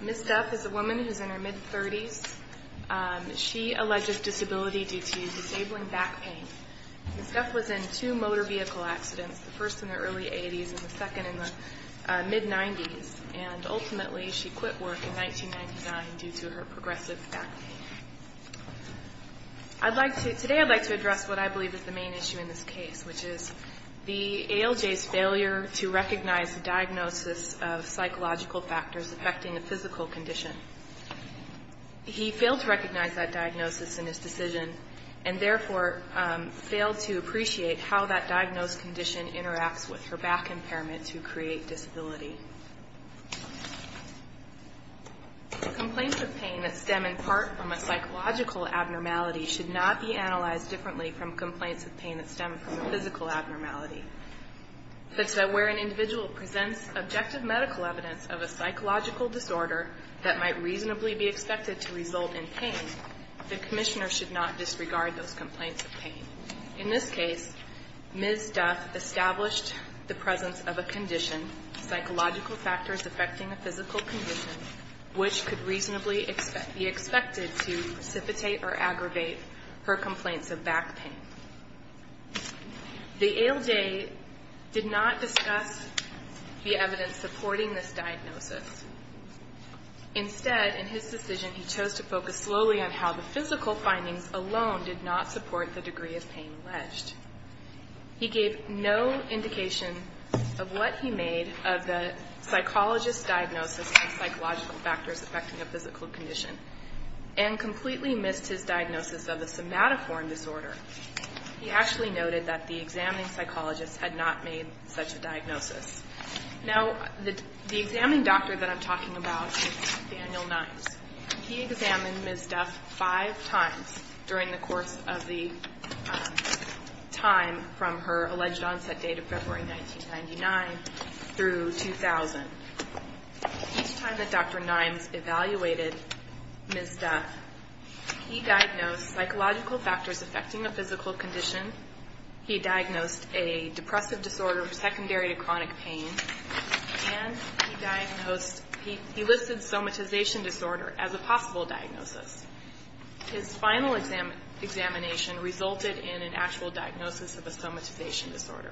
Ms. Duff is a woman in her mid-30s. She alleges disability due to disabling back pain. Ms. Duff was in two motor vehicle accidents, the first in her early 80s and the second in her mid-90s, and ultimately she quit work in 1999 due to her progressive back pain. Today I'd like to address what I believe is the main issue in this case, which is the ALJ's failure to recognize the diagnosis of psychological factors affecting the physical condition. He failed to recognize that diagnosis in his decision and therefore failed to appreciate how that diagnosed condition interacts with her back impairment to create disability. Complaints of pain that stem in part from a psychological abnormality should not be analyzed differently from complaints of pain that stem from a physical abnormality. Where an individual presents objective medical evidence of a psychological disorder that might reasonably be expected to result in pain, the commissioner should not disregard those complaints of pain. In this case, Ms. Duff established the presence of a condition, psychological factors affecting a physical condition, which could reasonably be expected to precipitate or aggravate her complaints of back pain. The ALJ did not discuss the evidence supporting this diagnosis. Instead, in his decision, he chose to focus slowly on how the physical findings alone did not support the degree of pain alleged. He gave no indication of what he made of the psychologist's diagnosis of psychological factors affecting a physical condition and completely missed his diagnosis of a somatoform disorder. He actually noted that the examining psychologist had not made such a diagnosis. Now, the examining doctor that I'm talking about is Nathaniel Nimes. He examined Ms. Duff five times during the course of the time from her alleged onset date of February 1999 through 2000. Each time that Dr. Nimes evaluated Ms. Duff, he diagnosed psychological factors affecting a physical condition, he diagnosed a depressive disorder secondary to chronic pain, and he diagnosed, he listed somatization disorder as a possible diagnosis. His final examination resulted in an actual diagnosis of a somatization disorder.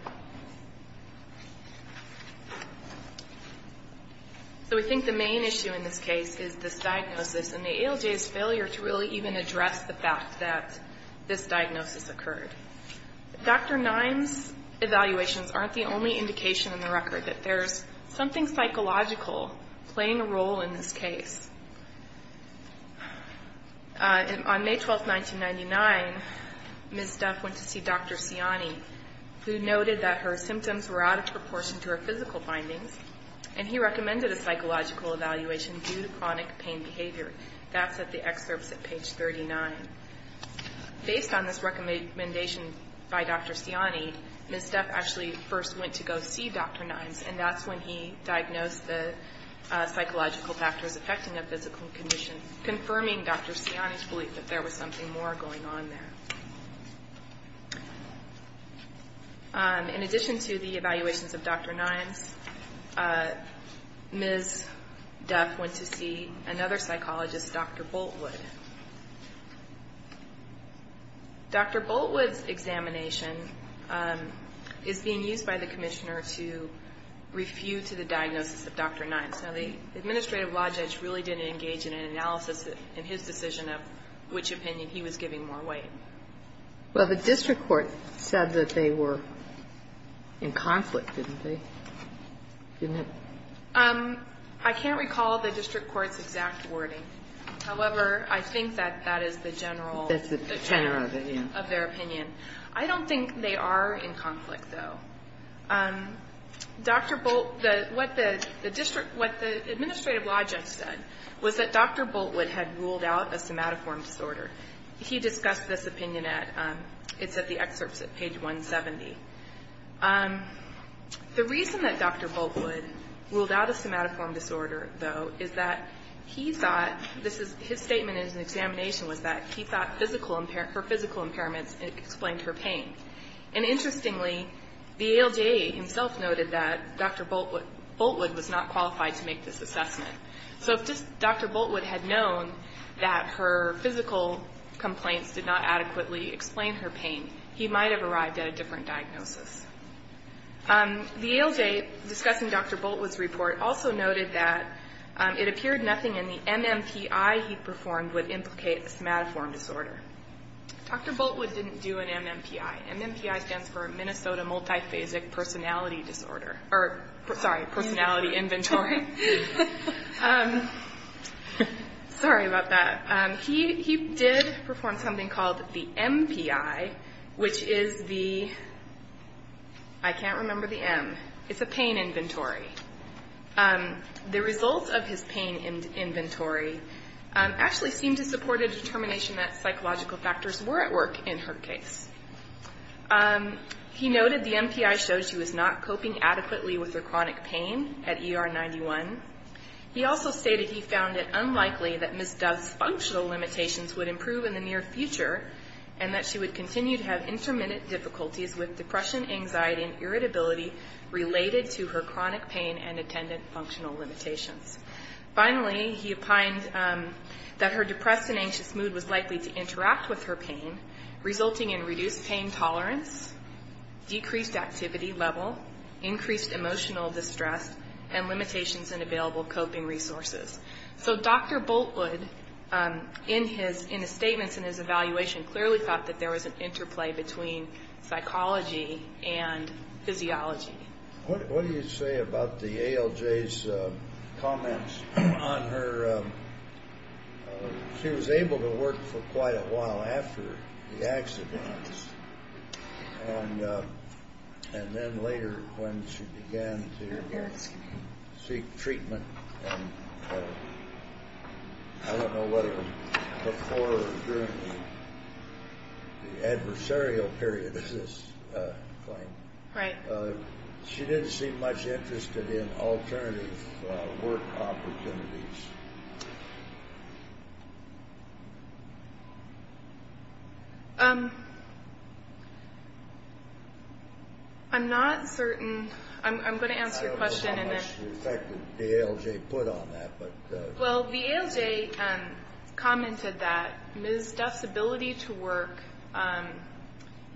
So we think the main issue in this case is this diagnosis and the ALJ's failure to really even address the fact that this diagnosis occurred. Dr. Nimes' evaluations aren't the only indication in the record that there's something psychological playing a role in this case. On May 12, 1999, Ms. Duff went to see Dr. Siani, who noted that her symptoms were out of proportion to her physical findings, and he recommended a psychological evaluation due to chronic pain behavior. That's at the excerpts at page 39. Based on this recommendation by Dr. Siani, Ms. Duff actually first went to go see Dr. Nimes, and that's when he diagnosed the psychological factors affecting a physical condition, confirming Dr. Siani's belief that there was something more going on there. In addition to the evaluations of Dr. Nimes, Ms. Duff went to see another psychologist, Dr. Boltwood. Dr. Boltwood's examination is being used by the commissioner to refute the diagnosis of Dr. Nimes. Now, the administrative law judge really didn't engage in an analysis in his decision of which opinion he was giving more weight. Well, the district court said that they were in conflict, didn't they? Didn't it? I can't recall the district court's exact wording. However, I think that that is the general of their opinion. I don't think they are in conflict, though. Dr. Bolt, what the district, what the administrative law judge said was that Dr. Boltwood had ruled out a somatoform disorder. He discussed this opinion at, it's at the excerpts at page 170. The reason that Dr. Boltwood ruled out a somatoform disorder, though, is that he thought, his statement in his examination was that he thought physical, her physical impairments explained her pain. And interestingly, the ALJ himself noted that Dr. Boltwood was not qualified to make this assessment. So if Dr. Boltwood had known that her physical complaints did not adequately explain her pain, he might have arrived at a different diagnosis. The ALJ, discussing Dr. Boltwood's report, also noted that it appeared nothing in the MMPI he performed would implicate a somatoform disorder. Dr. Boltwood didn't do an MMPI. MMPI stands for Minnesota Multiphasic Personality Disorder. Or, sorry, personality inventory. Sorry about that. He did perform something called the MPI, which is the, I can't remember the M. It's a pain inventory. The results of his pain inventory actually seemed to support a determination that psychological factors were at work in her case. He noted the MPI showed she was not coping adequately with her chronic pain at ER 91. He also stated he found it unlikely that Ms. Dove's functional limitations would improve in the near future and that she would continue to have intermittent difficulties with depression, anxiety, and irritability related to her chronic pain and attendant functional limitations. Finally, he opined that her depressed and anxious mood was likely to interact with her pain, resulting in reduced pain tolerance, decreased activity level, increased emotional distress, and limitations in available coping resources. So Dr. Boltwood, in his statements and his evaluation, clearly thought that there was an interplay between psychology and physiology. What do you say about the ALJ's comments on her, she was able to work for quite a while after the accidents, and then later when she began to seek treatment, I don't know whether before or during the adversarial period of this claim. Right. She didn't seem much interested in alternative work opportunities. I'm not certain, I'm going to answer your question. I don't know how much the ALJ put on that. Well, the ALJ commented that Ms. Dove's ability to work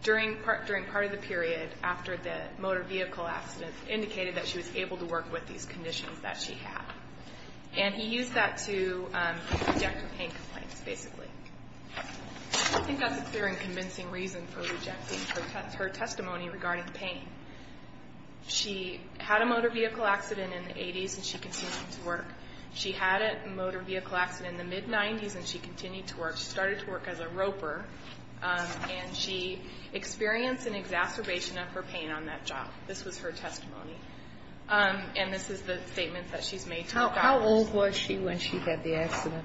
during part of the period after the motor vehicle accident indicated that she was able to work with these conditions that she had. And he used that to reject her pain complaints, basically. I think that's a clear and convincing reason for rejecting her testimony regarding pain. She had a motor vehicle accident in the 80s, and she continued to work. She had a motor vehicle accident in the mid-90s, and she continued to work. She started to work as a roper, and she experienced an exacerbation of her pain on that job. This was her testimony. And this is the statement that she's made to the doctors. How old was she when she had the accident?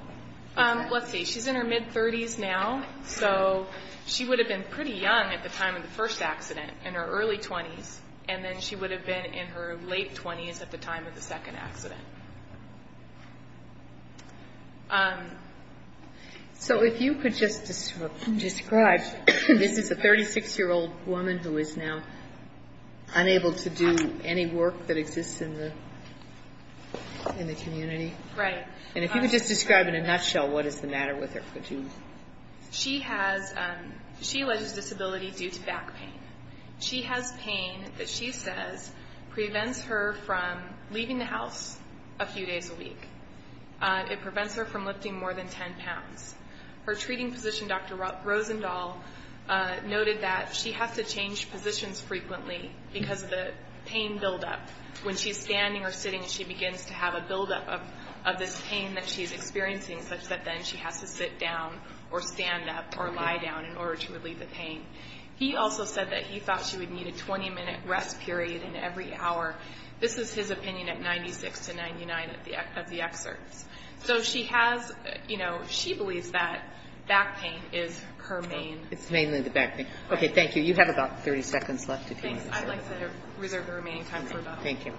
Let's see. She's in her mid-30s now. So she would have been pretty young at the time of the first accident, in her early 20s, and then she would have been in her late 20s at the time of the second accident. So if you could just describe, this is a 36-year-old woman who is now unable to do any work that exists in the community. Right. And if you could just describe in a nutshell what is the matter with her, could you? She has ‑‑ she alleges disability due to back pain. She has pain that she says prevents her from leaving the house a few days a week. It prevents her from lifting more than 10 pounds. Her treating physician, Dr. Rosendahl, noted that she has to change positions frequently because of the pain buildup. When she's standing or sitting, she begins to have a buildup of this pain that she's experiencing, such that then she has to sit down or stand up or lie down in order to relieve the pain. He also said that he thought she would need a 20-minute rest period in every hour. This is his opinion at 96 to 99 of the excerpts. So she has, you know, she believes that back pain is her main. It's mainly the back pain. Okay, thank you. You have about 30 seconds left if you need to. I'd like to reserve the remaining time for Dr. Rosendahl. Thank you.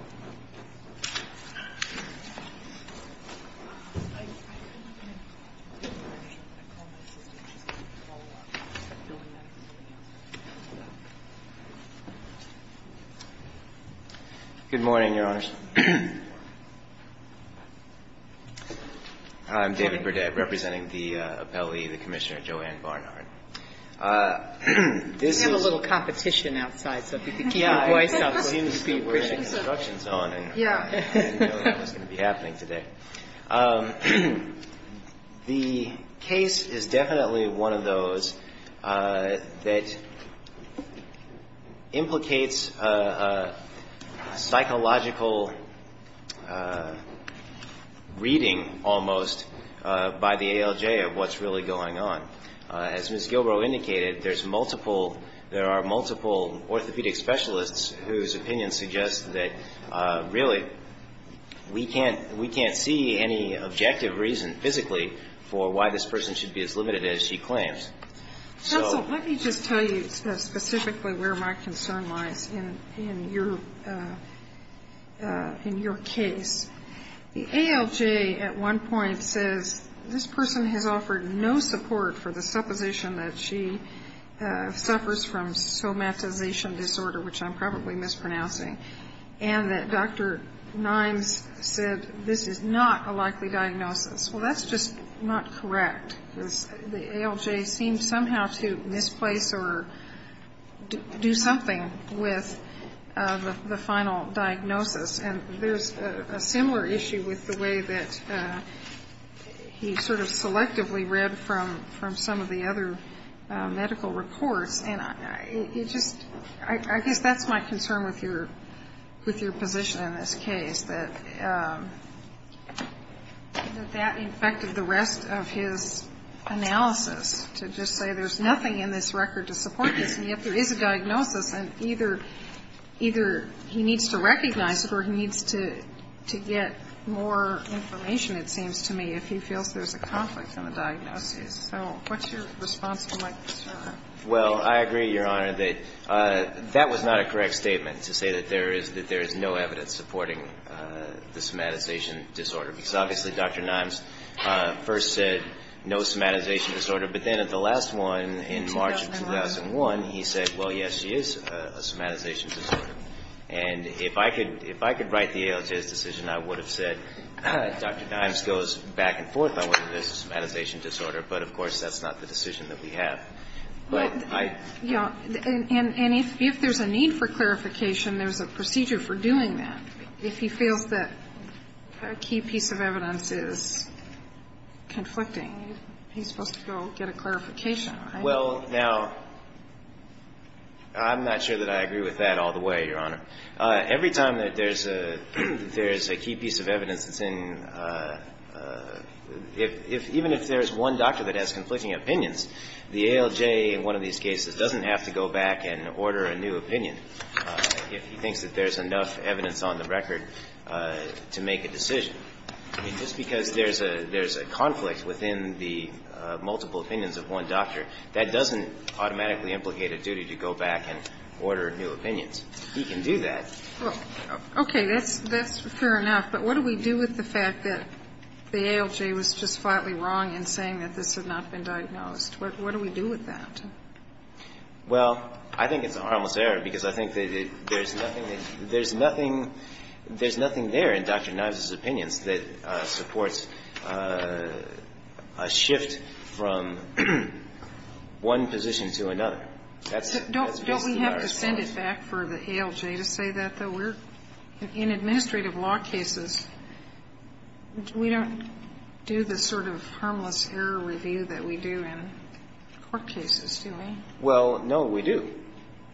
Good morning, Your Honors. I'm David Burdett, representing the appellee, the Commissioner Joanne Barnhart. We have a little competition outside, so if you could keep your voice up. We're in a construction zone, and we didn't know that was going to be happening today. The case is definitely one of those that implicates a psychological reading, almost, by the ALJ of what's really going on. As Ms. Gilbrow indicated, there's multiple, there are multiple orthopedic specialists whose opinions suggest that, really, we can't see any objective reason physically for why this person should be as limited as she claims. Counsel, let me just tell you specifically where my concern lies in your case. The ALJ at one point says this person has offered no support for the supposition that she suffers from somatization disorder, which I'm probably mispronouncing, and that Dr. Nimes said this is not a likely diagnosis. Well, that's just not correct. The ALJ seems somehow to misplace or do something with the final diagnosis, and there's a similar issue with the way that he sort of selectively read from some of the other medical reports, and it just, I guess that's my concern with your position in this case, that that infected the rest of his analysis, to just say there's nothing in this record to support this, and yet there is a diagnosis, and either he needs to recognize it or he needs to get more information, it seems to me, if he feels there's a conflict in the diagnosis. So what's your response to my concern? Well, I agree, Your Honor, that that was not a correct statement, to say that there is no evidence supporting the somatization disorder, because obviously Dr. Nimes first said no somatization disorder, but then at the last one in March of 2001, he said, well, yes, she is a somatization disorder. And if I could write the ALJ's decision, I would have said Dr. Nimes goes back and forth on whether there's a somatization disorder, but of course that's not the decision that we have. And if there's a need for clarification, there's a procedure for doing that. If he feels that a key piece of evidence is conflicting, he's supposed to go get a clarification. Well, now, I'm not sure that I agree with that all the way, Your Honor. Every time that there's a key piece of evidence that's in – even if there's one doctor that has conflicting opinions, the ALJ in one of these cases doesn't have to go back and order a new opinion. If he thinks that there's enough evidence on the record to make a decision, I mean, just because there's a – there's a conflict within the multiple opinions of one doctor, that doesn't automatically implicate a duty to go back and order new opinions. He can do that. Well, okay. That's fair enough. But what do we do with the fact that the ALJ was just flatly wrong in saying that this had not been diagnosed? What do we do with that? Well, I think it's a harmless error, because I think that there's nothing that – there's nothing – there's nothing there in Dr. Knives' opinions that supports a shift from one position to another. That's basically our response. Don't we have to send it back for the ALJ to say that, though? In administrative law cases, we don't do the sort of harmless error review that we do in court cases, do we? Well, no, we do.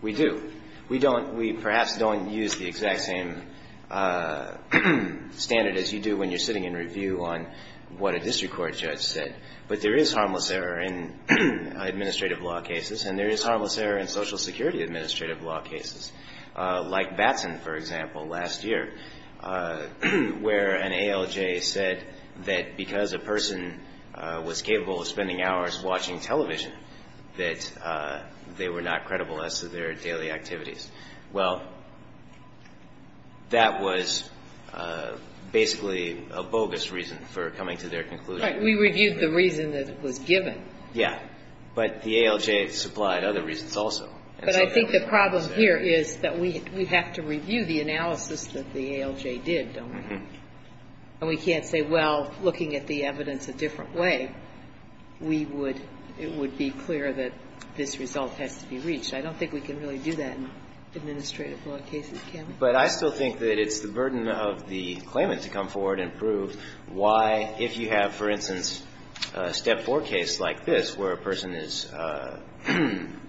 We do. We don't – we perhaps don't use the exact same standard as you do when you're sitting in review on what a district court judge said. But there is harmless error in administrative law cases, and there is harmless error in Social Security administrative law cases. Like Batson, for example, last year, where an ALJ said that because a person was capable of spending hours watching television, that they were not credible as to their daily activities. Well, that was basically a bogus reason for coming to their conclusion. Right. We reviewed the reason that it was given. Yeah. But the ALJ supplied other reasons also. But I think the problem here is that we have to review the analysis that the ALJ did, don't we? And we can't say, well, looking at the evidence a different way, we would – it would be clear that this result has to be reached. I don't think we can really do that in administrative law cases, can we? But I still think that it's the burden of the claimant to come forward and prove why, if you have, for instance, a Step 4 case like this, where a person is claiming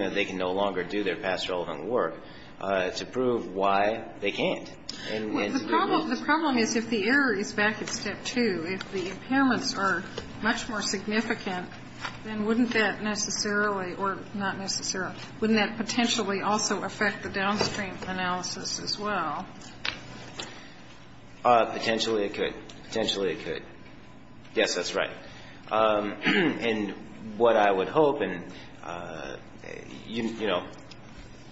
that they can no longer do their past relevant work, to prove why they can't. The problem is if the error is back at Step 2, if the impairments are much more significant, then wouldn't that necessarily, or not necessarily, wouldn't that potentially also affect the downstream analysis as well? Potentially it could. Potentially it could. Yes, that's right. And what I would hope, and, you know,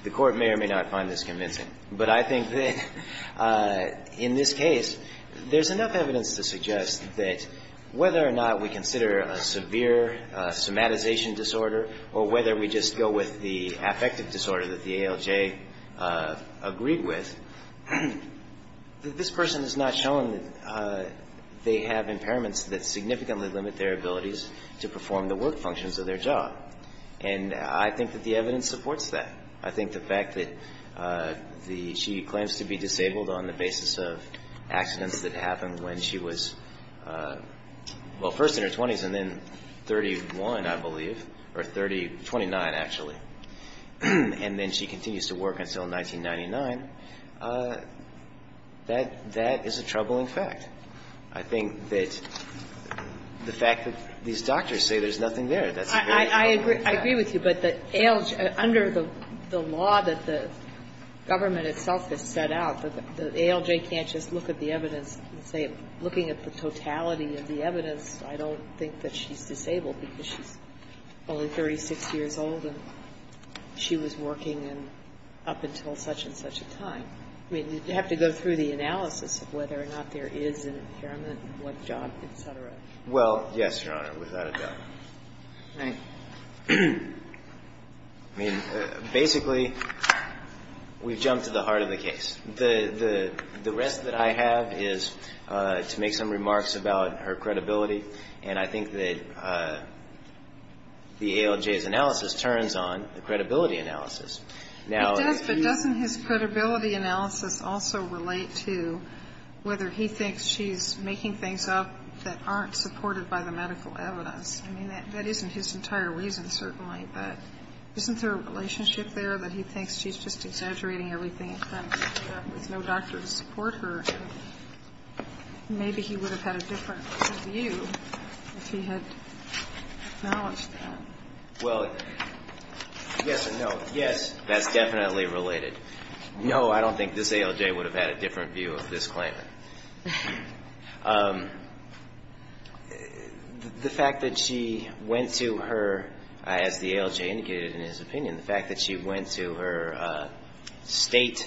the Court may or may not find this convincing, but I think that in this case, there's enough evidence to suggest that whether or not we consider a severe somatization disorder or whether we just go with the affective that this person is not showing that they have impairments that significantly limit their abilities to perform the work functions of their job. And I think that the evidence supports that. I think the fact that she claims to be disabled on the basis of accidents that happened when she was, well, first in her 20s and then 31, I believe, or 30, 29, actually, and then she continues to work until 1999, that is a troubling fact. I think that the fact that these doctors say there's nothing there, that's a very troubling fact. I agree with you. But under the law that the government itself has set out, the ALJ can't just look at the evidence and say looking at the totality of the evidence, I don't think that she's disabled because she's only 36 years old and she was working and up until such and such a time. I mean, you have to go through the analysis of whether or not there is an impairment, what job, et cetera. Well, yes, Your Honor, without a doubt. All right. I mean, basically, we've jumped to the heart of the case. The rest that I have is to make some remarks about her credibility. And I think that the ALJ's analysis turns on the credibility analysis. Now, if he's ---- It does, but doesn't his credibility analysis also relate to whether he thinks she's making things up that aren't supported by the medical evidence? I mean, that isn't his entire reason, certainly. But isn't there a relationship there that he thinks she's just exaggerating everything and trying to figure out there's no doctor to support her? Maybe he would have had a different view if he had acknowledged that. Well, yes and no. Yes, that's definitely related. No, I don't think this ALJ would have had a different view of this claimant. The fact that she went to her ---- as the ALJ indicated in his opinion, the fact that she went to her state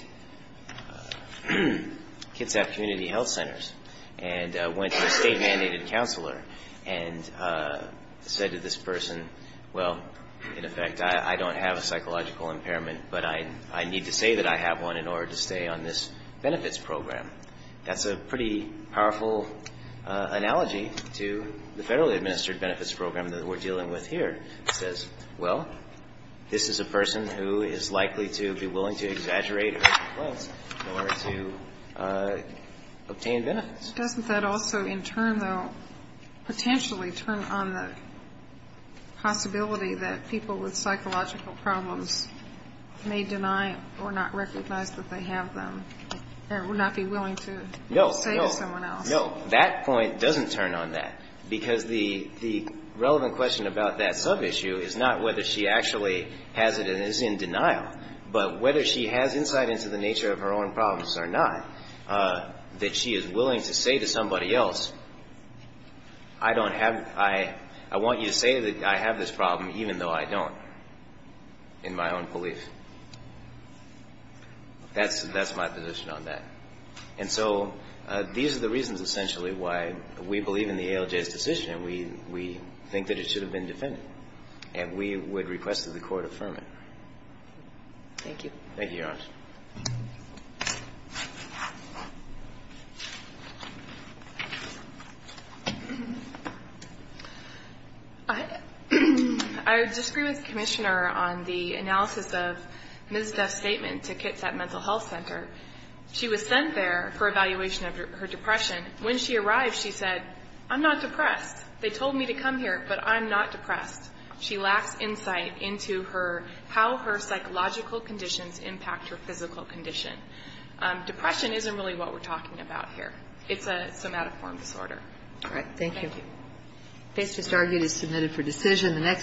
Kitsap Community Health Centers and went to a state-mandated counselor and said to this person, well, in effect, I don't have a psychological impairment, but I need to say that I have one in order to stay on this benefits program. That's a pretty powerful analogy to the federally administered benefits program that we're dealing with here. It says, well, this is a person who is likely to be willing to exaggerate or to obtain benefits. Doesn't that also in turn, though, potentially turn on the possibility that people with psychological problems may deny or not recognize that they have them or would not be willing to say to someone else? No, no, no. That point doesn't turn on that because the relevant question about that sub-issue is not whether she actually has it and is in denial, but whether she has insight into the nature of her own problems or not, that she is willing to say to somebody else, I don't have ---- I want you to say that I have this problem even though I don't in my own belief. That's my position on that. And so these are the reasons, essentially, why we believe in the ALJ's decision and we think that it should have been defended. And we would request that the Court affirm it. Thank you. Thank you, Your Honor. I disagree with the Commissioner on the analysis of Ms. Duff's statement to Kitsap Mental Health Center. She was sent there for evaluation of her depression. When she arrived, she said, I'm not depressed. They told me to come here, but I'm not depressed. She lacks insight into how her psychological conditions impact her physical condition. Depression isn't really what we're talking about here. It's a somatoform disorder. All right. Thank you. Thank you. This argument is submitted for decision.